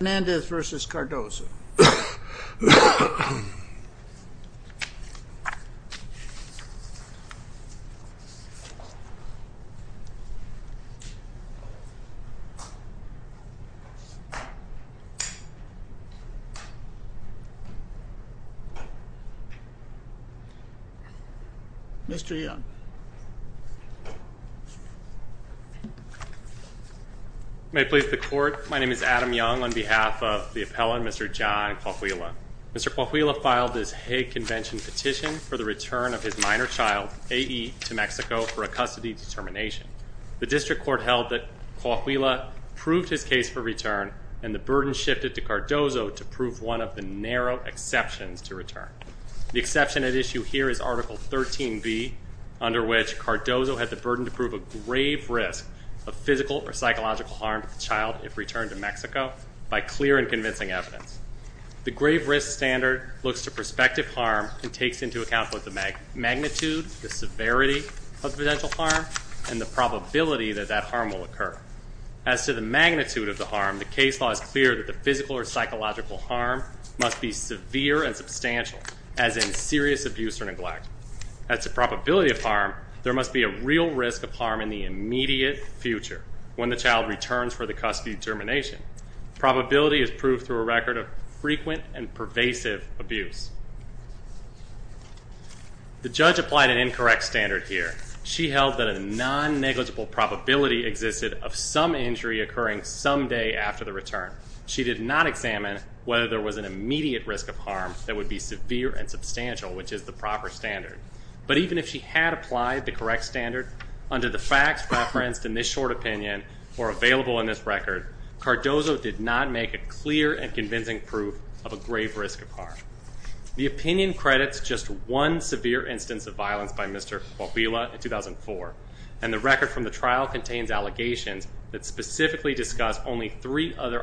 Hernandez v. Cardoso Mr. Young May it please the court, my name is Adam Young on behalf of the appellant, Mr. John Coahuila. Mr. Coahuila filed this Hague Convention petition for the return of his minor child, A.E., to Mexico for a custody determination. The district court held that Coahuila proved his case for return and the burden shifted to Cardoso to prove one of the narrow exceptions to return. The exception at issue here is Article 13b, under which Cardoso had the burden to prove a grave risk of physical or psychological harm to the child if returned to Mexico by clear and convincing evidence. The grave risk standard looks to prospective harm and takes into account both the magnitude, the severity of the potential harm, and the probability that that harm will occur. As to the magnitude of the harm, the case law is clear that the physical or psychological harm must be severe and substantial, as in serious abuse or neglect. As to probability of harm, there must be a real risk of harm in the immediate future when the child returns for the custody determination. Probability is proved through a record of frequent and pervasive abuse. The judge applied an incorrect standard here. She held that a non-negligible probability existed of some injury occurring someday after the return. She did not examine whether there was an immediate risk of harm that would be severe and substantial, which is the proper standard. But even if she had applied the correct standard, under the facts referenced in this short opinion or available in this record, Cardoso did not make a clear and convincing proof of a grave risk of harm. The opinion credits just one severe instance of violence by Mr. Coahuila in 2004, and the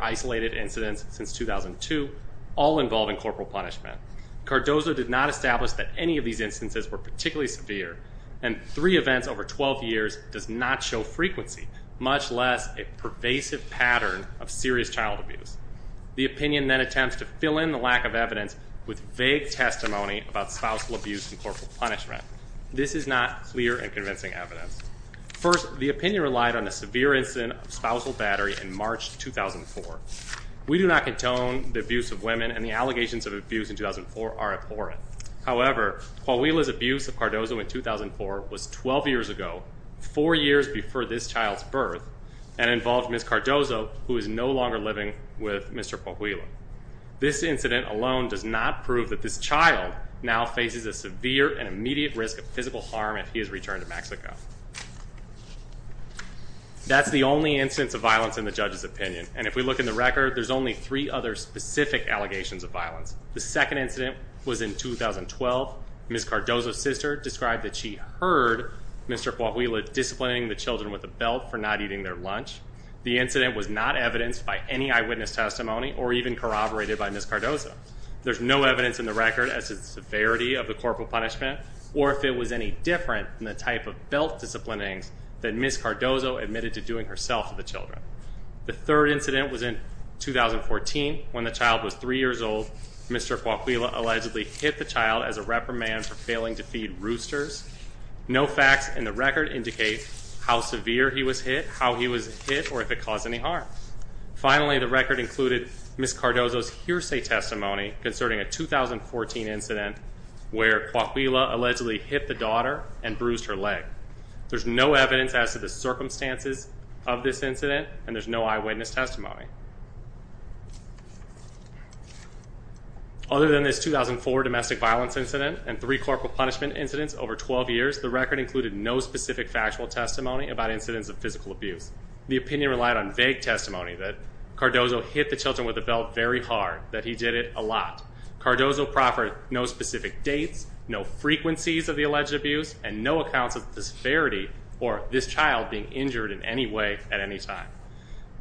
isolated incidents since 2002, all involving corporal punishment. Cardoso did not establish that any of these instances were particularly severe, and three events over 12 years does not show frequency, much less a pervasive pattern of serious child abuse. The opinion then attempts to fill in the lack of evidence with vague testimony about spousal abuse and corporal punishment. This is not clear and convincing evidence. First, the opinion relied on a severe incident of spousal battery in March 2004. We do not contone the abuse of women, and the allegations of abuse in 2004 are abhorrent. However, Coahuila's abuse of Cardoso in 2004 was 12 years ago, four years before this child's birth, and involved Ms. Cardoso, who is no longer living with Mr. Coahuila. This incident alone does not prove that this child now faces a severe and immediate risk of physical harm if he is returned to Mexico. That's the only instance of violence in the judge's opinion, and if we look in the record, there's only three other specific allegations of violence. The second incident was in 2012. Ms. Cardoso's sister described that she heard Mr. Coahuila disciplining the children with a belt for not eating their lunch. The incident was not evidenced by any eyewitness testimony or even corroborated by Ms. Cardoso. There's no evidence in the record as to the severity of the corporal punishment, or if it was any different in the type of belt disciplining that Ms. Cardoso admitted to doing herself to the children. The third incident was in 2014. When the child was three years old, Mr. Coahuila allegedly hit the child as a reprimand for failing to feed roosters. No facts in the record indicate how severe he was hit, how he was hit, or if it caused any harm. Finally, the record included Ms. Cardoso's hearsay testimony concerning a 2014 incident where Coahuila allegedly hit the daughter and bruised her leg. There's no evidence as to the circumstances of this incident, and there's no eyewitness testimony. Other than this 2004 domestic violence incident and three corporal punishment incidents over 12 years, the record included no specific factual testimony about incidents of physical abuse. The opinion relied on vague testimony that Cardoso hit the children with a belt very hard, that he did it a lot. Cardoso proffered no specific dates, no frequencies of the alleged abuse, and no accounts of disparity or this child being injured in any way at any time.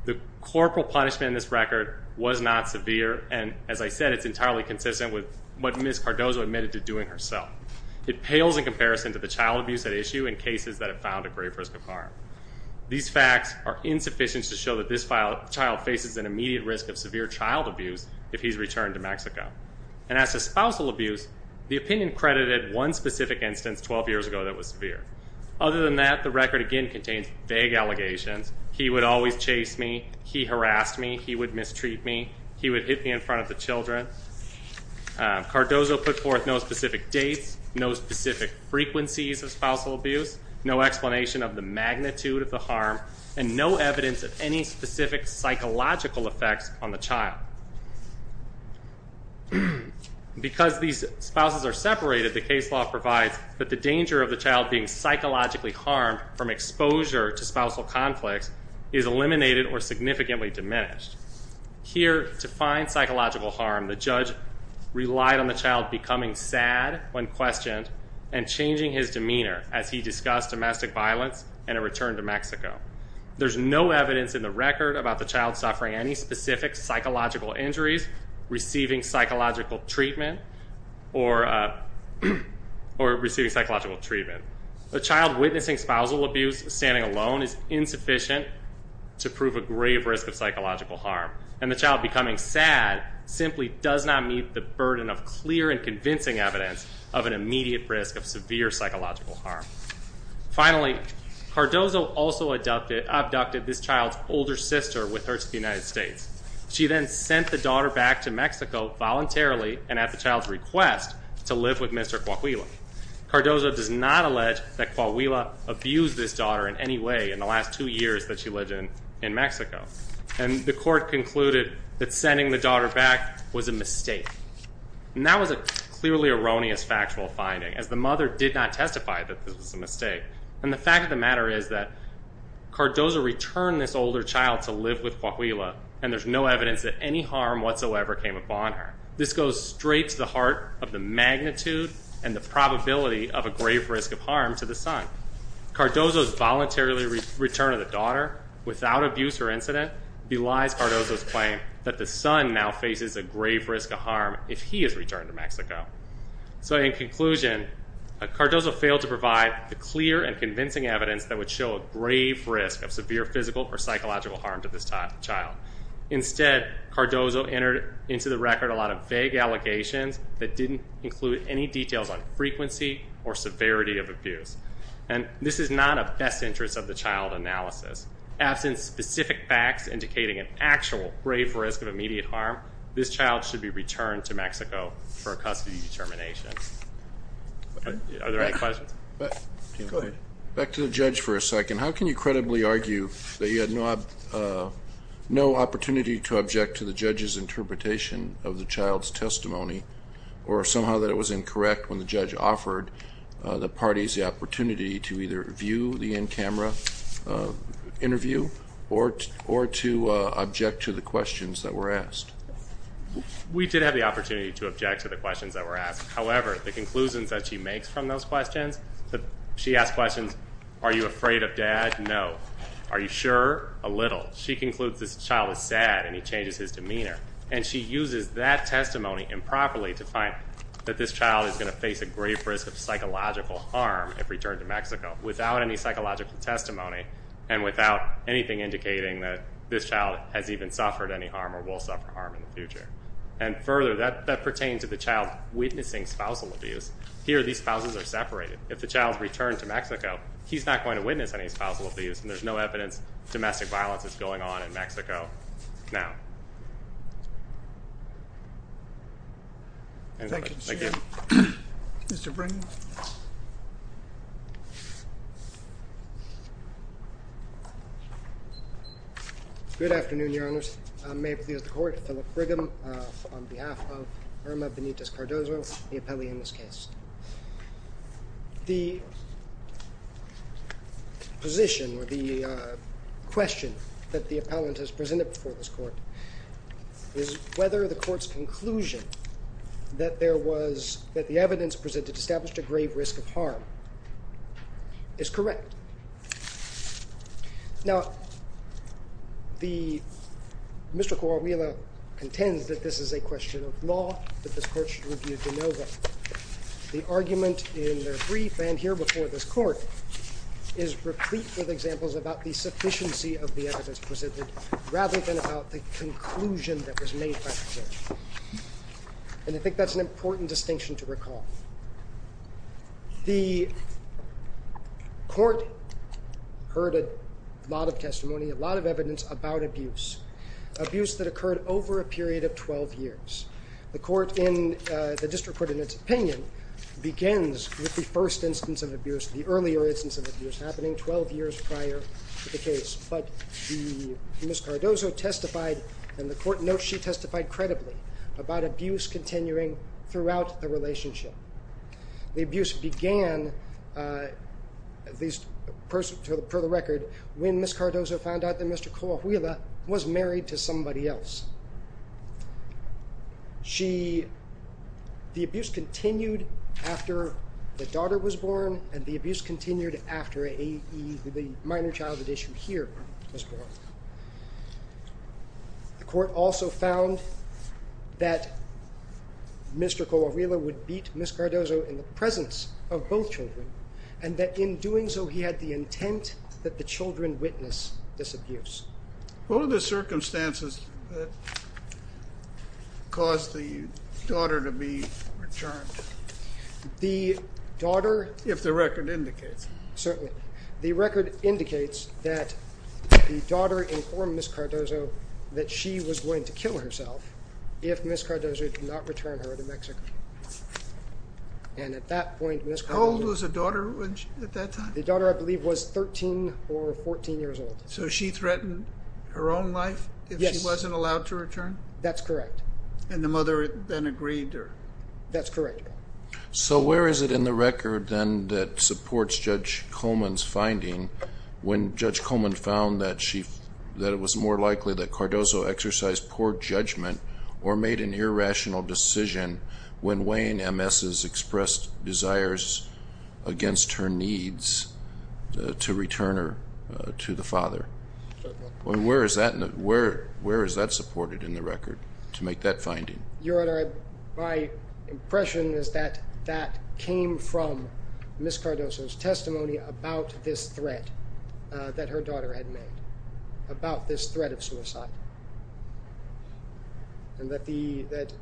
The corporal punishment in this record was not severe, and as I said, it's entirely consistent with what Ms. Cardoso admitted to doing herself. It pales in comparison to the child abuse at issue in cases that have found a great risk of harm. These facts are insufficient to show that this child faces an immediate risk of severe child abuse if he's returned to Mexico. And as to spousal abuse, the opinion credited one specific instance 12 years ago that was severe. Other than that, the record again contains vague allegations. He would always chase me. He harassed me. He would mistreat me. He would hit me in front of the children. Cardoso put forth no specific dates, no specific frequencies of spousal abuse, no explanation of the magnitude of the harm, and no evidence of any specific psychological effects on the child. Because these spouses are separated, the case law provides that the danger of the child being psychologically harmed from exposure to spousal conflicts is eliminated or significantly diminished. Here, to find psychological harm, the judge relied on the child becoming sad when questioned and changing his demeanor as he discussed domestic violence and a return to Mexico. There's no evidence in the record about the child suffering any specific psychological injuries, receiving psychological treatment, or receiving psychological treatment. A child witnessing spousal abuse standing alone is insufficient to prove a grave risk of psychological harm. And the child becoming sad simply does not meet the burden of clear and convincing evidence of an immediate risk of severe psychological harm. Finally, Cardoso also abducted this child's older sister with her to the United States. She then sent the daughter back to Mexico voluntarily and at the child's request to live with Mr. Coahuila. Cardoso does not allege that Coahuila abused this daughter in any way in the last two years that she lived in Mexico. And the court concluded that sending the daughter back was a mistake. And that was a clearly erroneous factual finding, as the mother did not testify that this was a mistake. And the fact of the matter is that Cardoso returned this older child to live with Coahuila, and there's no evidence that any harm whatsoever came upon her. This goes straight to the heart of the magnitude and the probability of a grave risk of harm to the son. Cardoso's voluntary return of the daughter without abuse or incident belies Cardoso's The son now faces a grave risk of harm if he is returned to Mexico. So in conclusion, Cardoso failed to provide the clear and convincing evidence that would show a grave risk of severe physical or psychological harm to this child. Instead, Cardoso entered into the record a lot of vague allegations that didn't include any details on frequency or severity of abuse. And this is not of best interest of the child analysis. Absent specific facts indicating an actual grave risk of immediate harm, this child should be returned to Mexico for a custody determination. Are there any questions? Go ahead. Back to the judge for a second. How can you credibly argue that you had no opportunity to object to the judge's interpretation of the child's testimony, or somehow that it was incorrect when the judge offered the parties the opportunity to either view the in-camera interview or to object to the questions that were asked? We did have the opportunity to object to the questions that were asked. However, the conclusions that she makes from those questions, she asks questions, are you afraid of dad? No. Are you sure? A little. She concludes this child is sad and he changes his demeanor. And she uses that testimony improperly to find that this child is going to face a grave risk of psychological harm if returned to Mexico without any psychological testimony and without anything indicating that this child has even suffered any harm or will suffer harm in the future. And further, that pertains to the child witnessing spousal abuse. Here, these spouses are separated. If the child's returned to Mexico, he's not going to witness any spousal abuse and there's no evidence domestic violence is going on in Mexico now. Thank you. Thank you. Mr. Brigham. Good afternoon, Your Honors. May it please the Court, Philip Brigham on behalf of Irma Benitez Cardozo, the appellee in this case. The position or the question that the appellant has presented before this court is whether the court's conclusion that there was, that the evidence presented established a grave risk of harm is correct. Now, Mr. Coromillo contends that this is a question of law, that this court should review de novo. The argument in their brief and here before this court is replete with examples about the sufficiency of the evidence presented rather than about the conclusion that was made by the court. And I think that's an important distinction to recall. The court heard a lot of testimony, a lot of evidence about abuse, abuse that occurred over a period of 12 years. The court in, the district court in its opinion, begins with the first instance of abuse, the earlier instance of abuse happening 12 years prior to the case. But Ms. Cardozo testified and the court notes she testified credibly about abuse continuing throughout the relationship. The abuse began, at least per the record, when Ms. Cardozo found out that Mr. Coahuila was married to somebody else. She, the abuse continued after the daughter was born and the abuse continued after a minor childhood issue here was born. The court also found that Mr. Coahuila would beat Ms. Cardozo in the presence of both children and that in doing so he had the intent that the children witness this abuse. What are the circumstances that caused the daughter to be returned? The daughter... If the record indicates it. Certainly. The record indicates that the daughter informed Ms. Cardozo that she was going to kill herself if Ms. Cardozo did not return her to Mexico. And at that point Ms. Cardozo... How old was the daughter at that time? The daughter I believe was 13 or 14 years old. So she threatened her own life if she wasn't allowed to return? That's correct. And the mother then agreed? That's correct. So where is it in the record then that supports Judge Coleman's finding when Judge Coleman found that it was more likely that Cardozo exercised poor judgment or made an irrational decision when weighing Ms.'s expressed desires against her needs to return her to the father? Certainly. Where is that supported in the record to make that finding? Your Honor, my impression is that that came from Ms. Cardozo's testimony about this threat that her daughter had made, about this threat of suicide. And that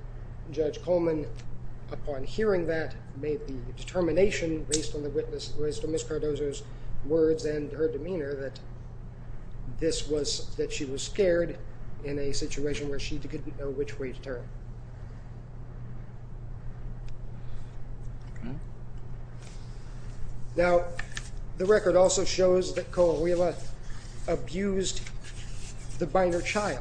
Judge Coleman, upon hearing that, made the determination based on Ms. Cardozo's words and her demeanor that she was scared in a situation where she didn't know which way to turn. Now, the record also shows that Coahuila abused the minor child.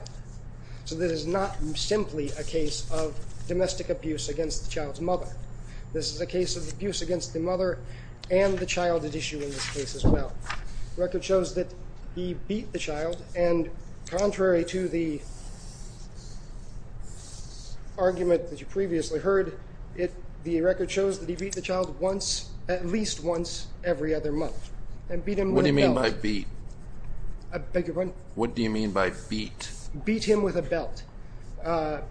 So this is not simply a case of domestic abuse against the child's mother. This is a case of abuse against the mother and the child at issue in this case as well. The record shows that he beat the child, and contrary to the argument that you previously heard, the record shows that he beat the child once, at least once, every other month. And beat him with a belt. What do you mean by beat? I beg your pardon? What do you mean by beat? Beat him with a belt.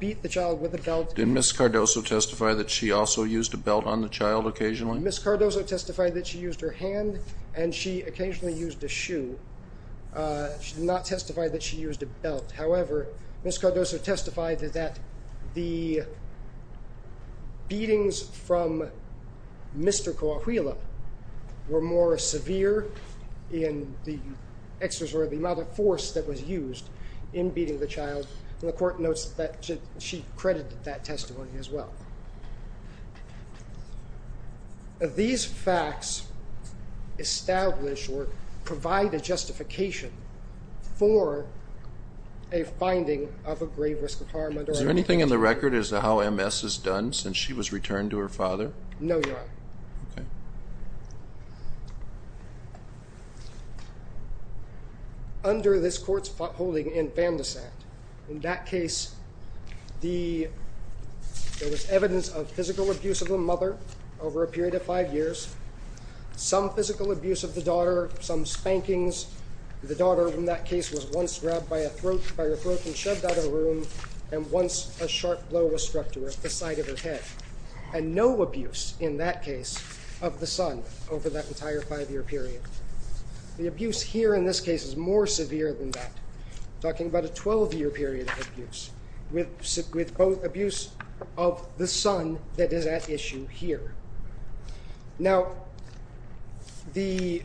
Beat the child with a belt. Did Ms. Cardozo testify that she also used a belt on the child occasionally? Ms. Cardozo testified that she used her hand, and she occasionally used a shoe. She did not testify that she used a belt. However, Ms. Cardozo testified that the beatings from Mr. Coahuila were more severe in the amount of force that was used in beating the child. And the court notes that she credited that testimony as well. These facts establish or provide a justification for a finding of a grave risk of harm. Is there anything in the record as to how MS is done since she was returned to her father? No, Your Honor. Okay. Under this court's holding in Bandasat, in that case there was evidence of physical abuse of the mother over a period of five years, some physical abuse of the daughter, some spankings. The daughter in that case was once grabbed by her throat and shoved out of the room, and once a sharp blow was struck to the side of her head. And no abuse in that case of the son over that entire five-year period. The abuse here in this case is more severe than that. I'm talking about a 12-year period of abuse with both abuse of the son that is at issue here. Now, Mr.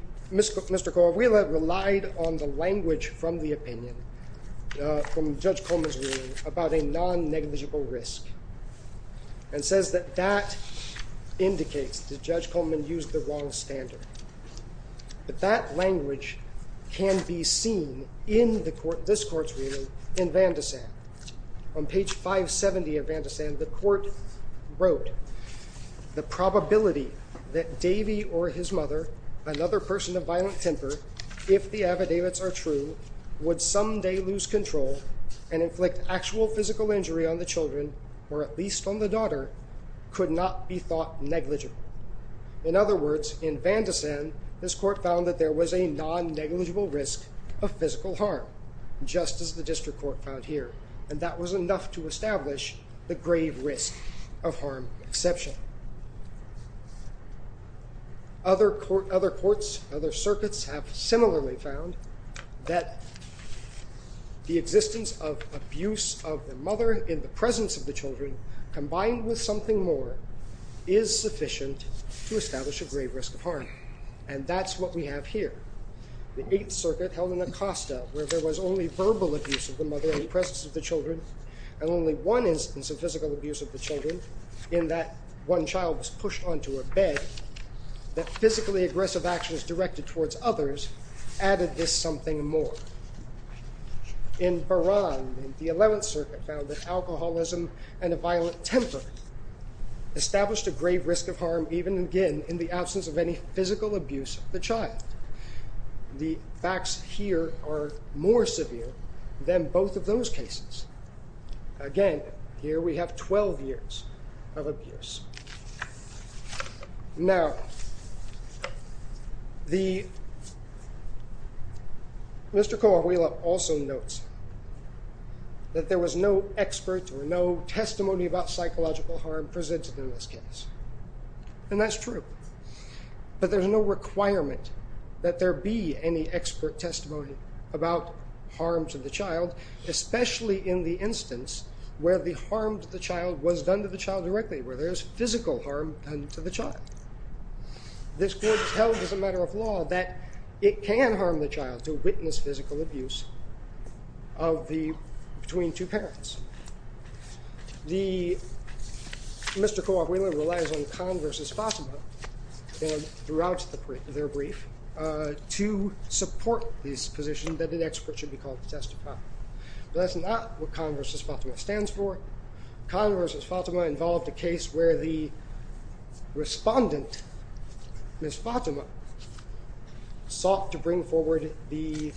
Coahuila relied on the language from the opinion from Judge Coleman's ruling about a non-negligible risk and says that that indicates that Judge Coleman used the wrong standard. But that language can be seen in this court's ruling in Bandasat. On page 570 of Bandasat, the court wrote, the probability that Davey or his mother, another person of violent temper, if the affidavits are true, would someday lose control and inflict actual physical injury on the children, or at least on the daughter, could not be thought negligible. In other words, in Bandasat, this court found that there was a non-negligible risk of physical harm, just as the district court found here. And that was enough to establish the grave risk of harm exception. Other courts, other circuits have similarly found that the existence of abuse of the mother in the presence of the children, combined with something more, is sufficient to establish a grave risk of harm. And that's what we have here. The 8th Circuit held in Acosta, where there was only verbal abuse of the mother in the presence of the children, and only one instance of physical abuse of the children, in that one child was pushed onto a bed, that physically aggressive actions directed towards others added this something more. In Baran, the 11th Circuit found that alcoholism and a violent temper established a grave risk of harm, even again, in the absence of any physical abuse of the child. The facts here are more severe than both of those cases. Again, here we have 12 years of abuse. Now, Mr. Koawila also notes that there was no expert or no testimony about psychological harm presented in this case. And that's true. But there's no requirement that there be any expert testimony about harm to the child, especially in the instance where the harm to the child was done to the child directly, where there's physical harm done to the child. This Court has held as a matter of law that it can harm the child to witness physical abuse between two parents. Mr. Koawila relies on Khan v. Fatima throughout their brief to support this position that the expert should be called to testify. But that's not what Khan v. Fatima stands for. Khan v. Fatima involved a case where the respondent, Ms. Fatima, sought to bring forward the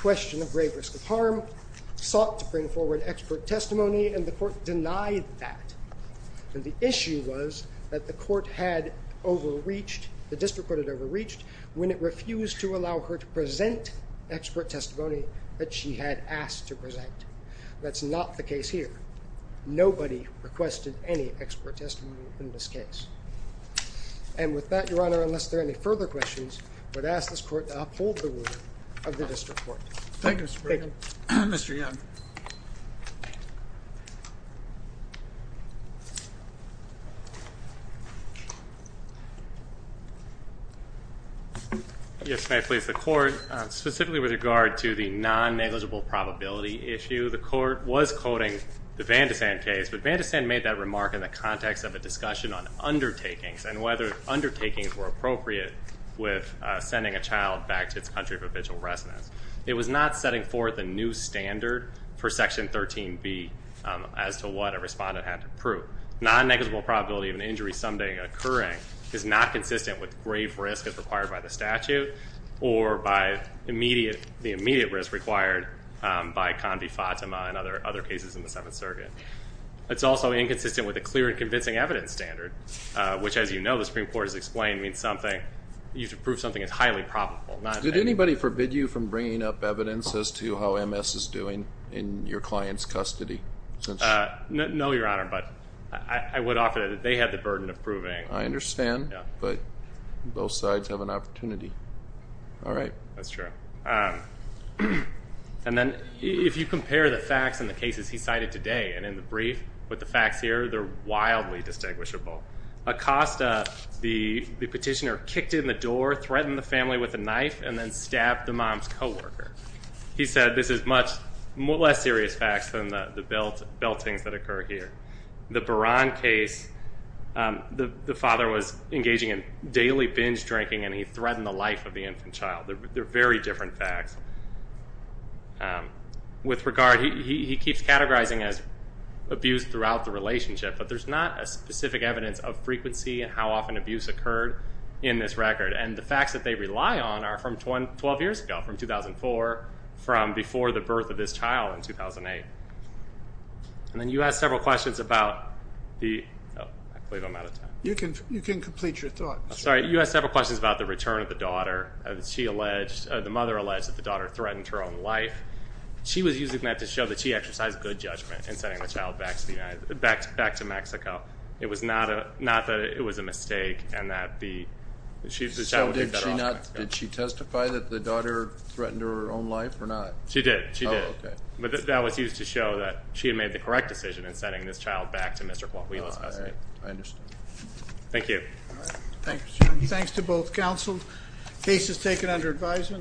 question of grave risk of harm, sought to bring forward expert testimony, and the Court denied that. And the issue was that the District Court had overreached when it refused to allow her to present expert testimony that she had asked to present. That's not the case here. Nobody requested any expert testimony in this case. And with that, Your Honor, unless there are any further questions, I would ask this Court to uphold the order of the District Court. Thank you, Mr. Brigham. Mr. Young. Yes, may I please? The Court, specifically with regard to the non-negligible probability issue, the Court was quoting the Van de Sand case, but Van de Sand made that remark in the context of a discussion on undertakings and whether undertakings were appropriate with sending a child back to its country of original residence. It was not setting forth a new standard for Section 13b as to what a respondent had to prove. Non-negligible probability of an injury someday occurring is not consistent with grave risk as required by the statute or by the immediate risk required by Condi-Fatima and other cases in the Seventh Circuit. It's also inconsistent with a clear and convincing evidence standard, which, as you know, the Supreme Court has explained, means you have to prove something is highly probable. Did anybody forbid you from bringing up evidence as to how MS is doing in your client's custody? No, Your Honor, but I would offer that they had the burden of proving. I understand, but both sides have an opportunity. All right. That's true. And then if you compare the facts in the cases he cited today and in the brief with the facts here, they're wildly distinguishable. Acosta, the petitioner, kicked in the door, threatened the family with a knife, and then stabbed the mom's coworker. He said this is much less serious facts than the beltings that occur here. The Baran case, the father was engaging in daily binge drinking, and he threatened the life of the infant child. They're very different facts. With regard, he keeps categorizing as abuse throughout the relationship, but there's not a specific evidence of frequency and how often abuse occurred in this record, and the facts that they rely on are from 12 years ago, from 2004, from before the birth of this child in 2008. And then you asked several questions about the return of the daughter. The mother alleged that the daughter threatened her own life. She was using that to show that she exercised good judgment in sending the child back to Mexico. It was not that it was a mistake and that the child would be better off in Mexico. So did she testify that the daughter threatened her own life or not? She did. She did. But that was used to show that she had made the correct decision in sending this child back to Mr. Coahuila's custody. I understand. Thank you. All right. Thanks. Thanks to both counsels. Case is taken under advisement.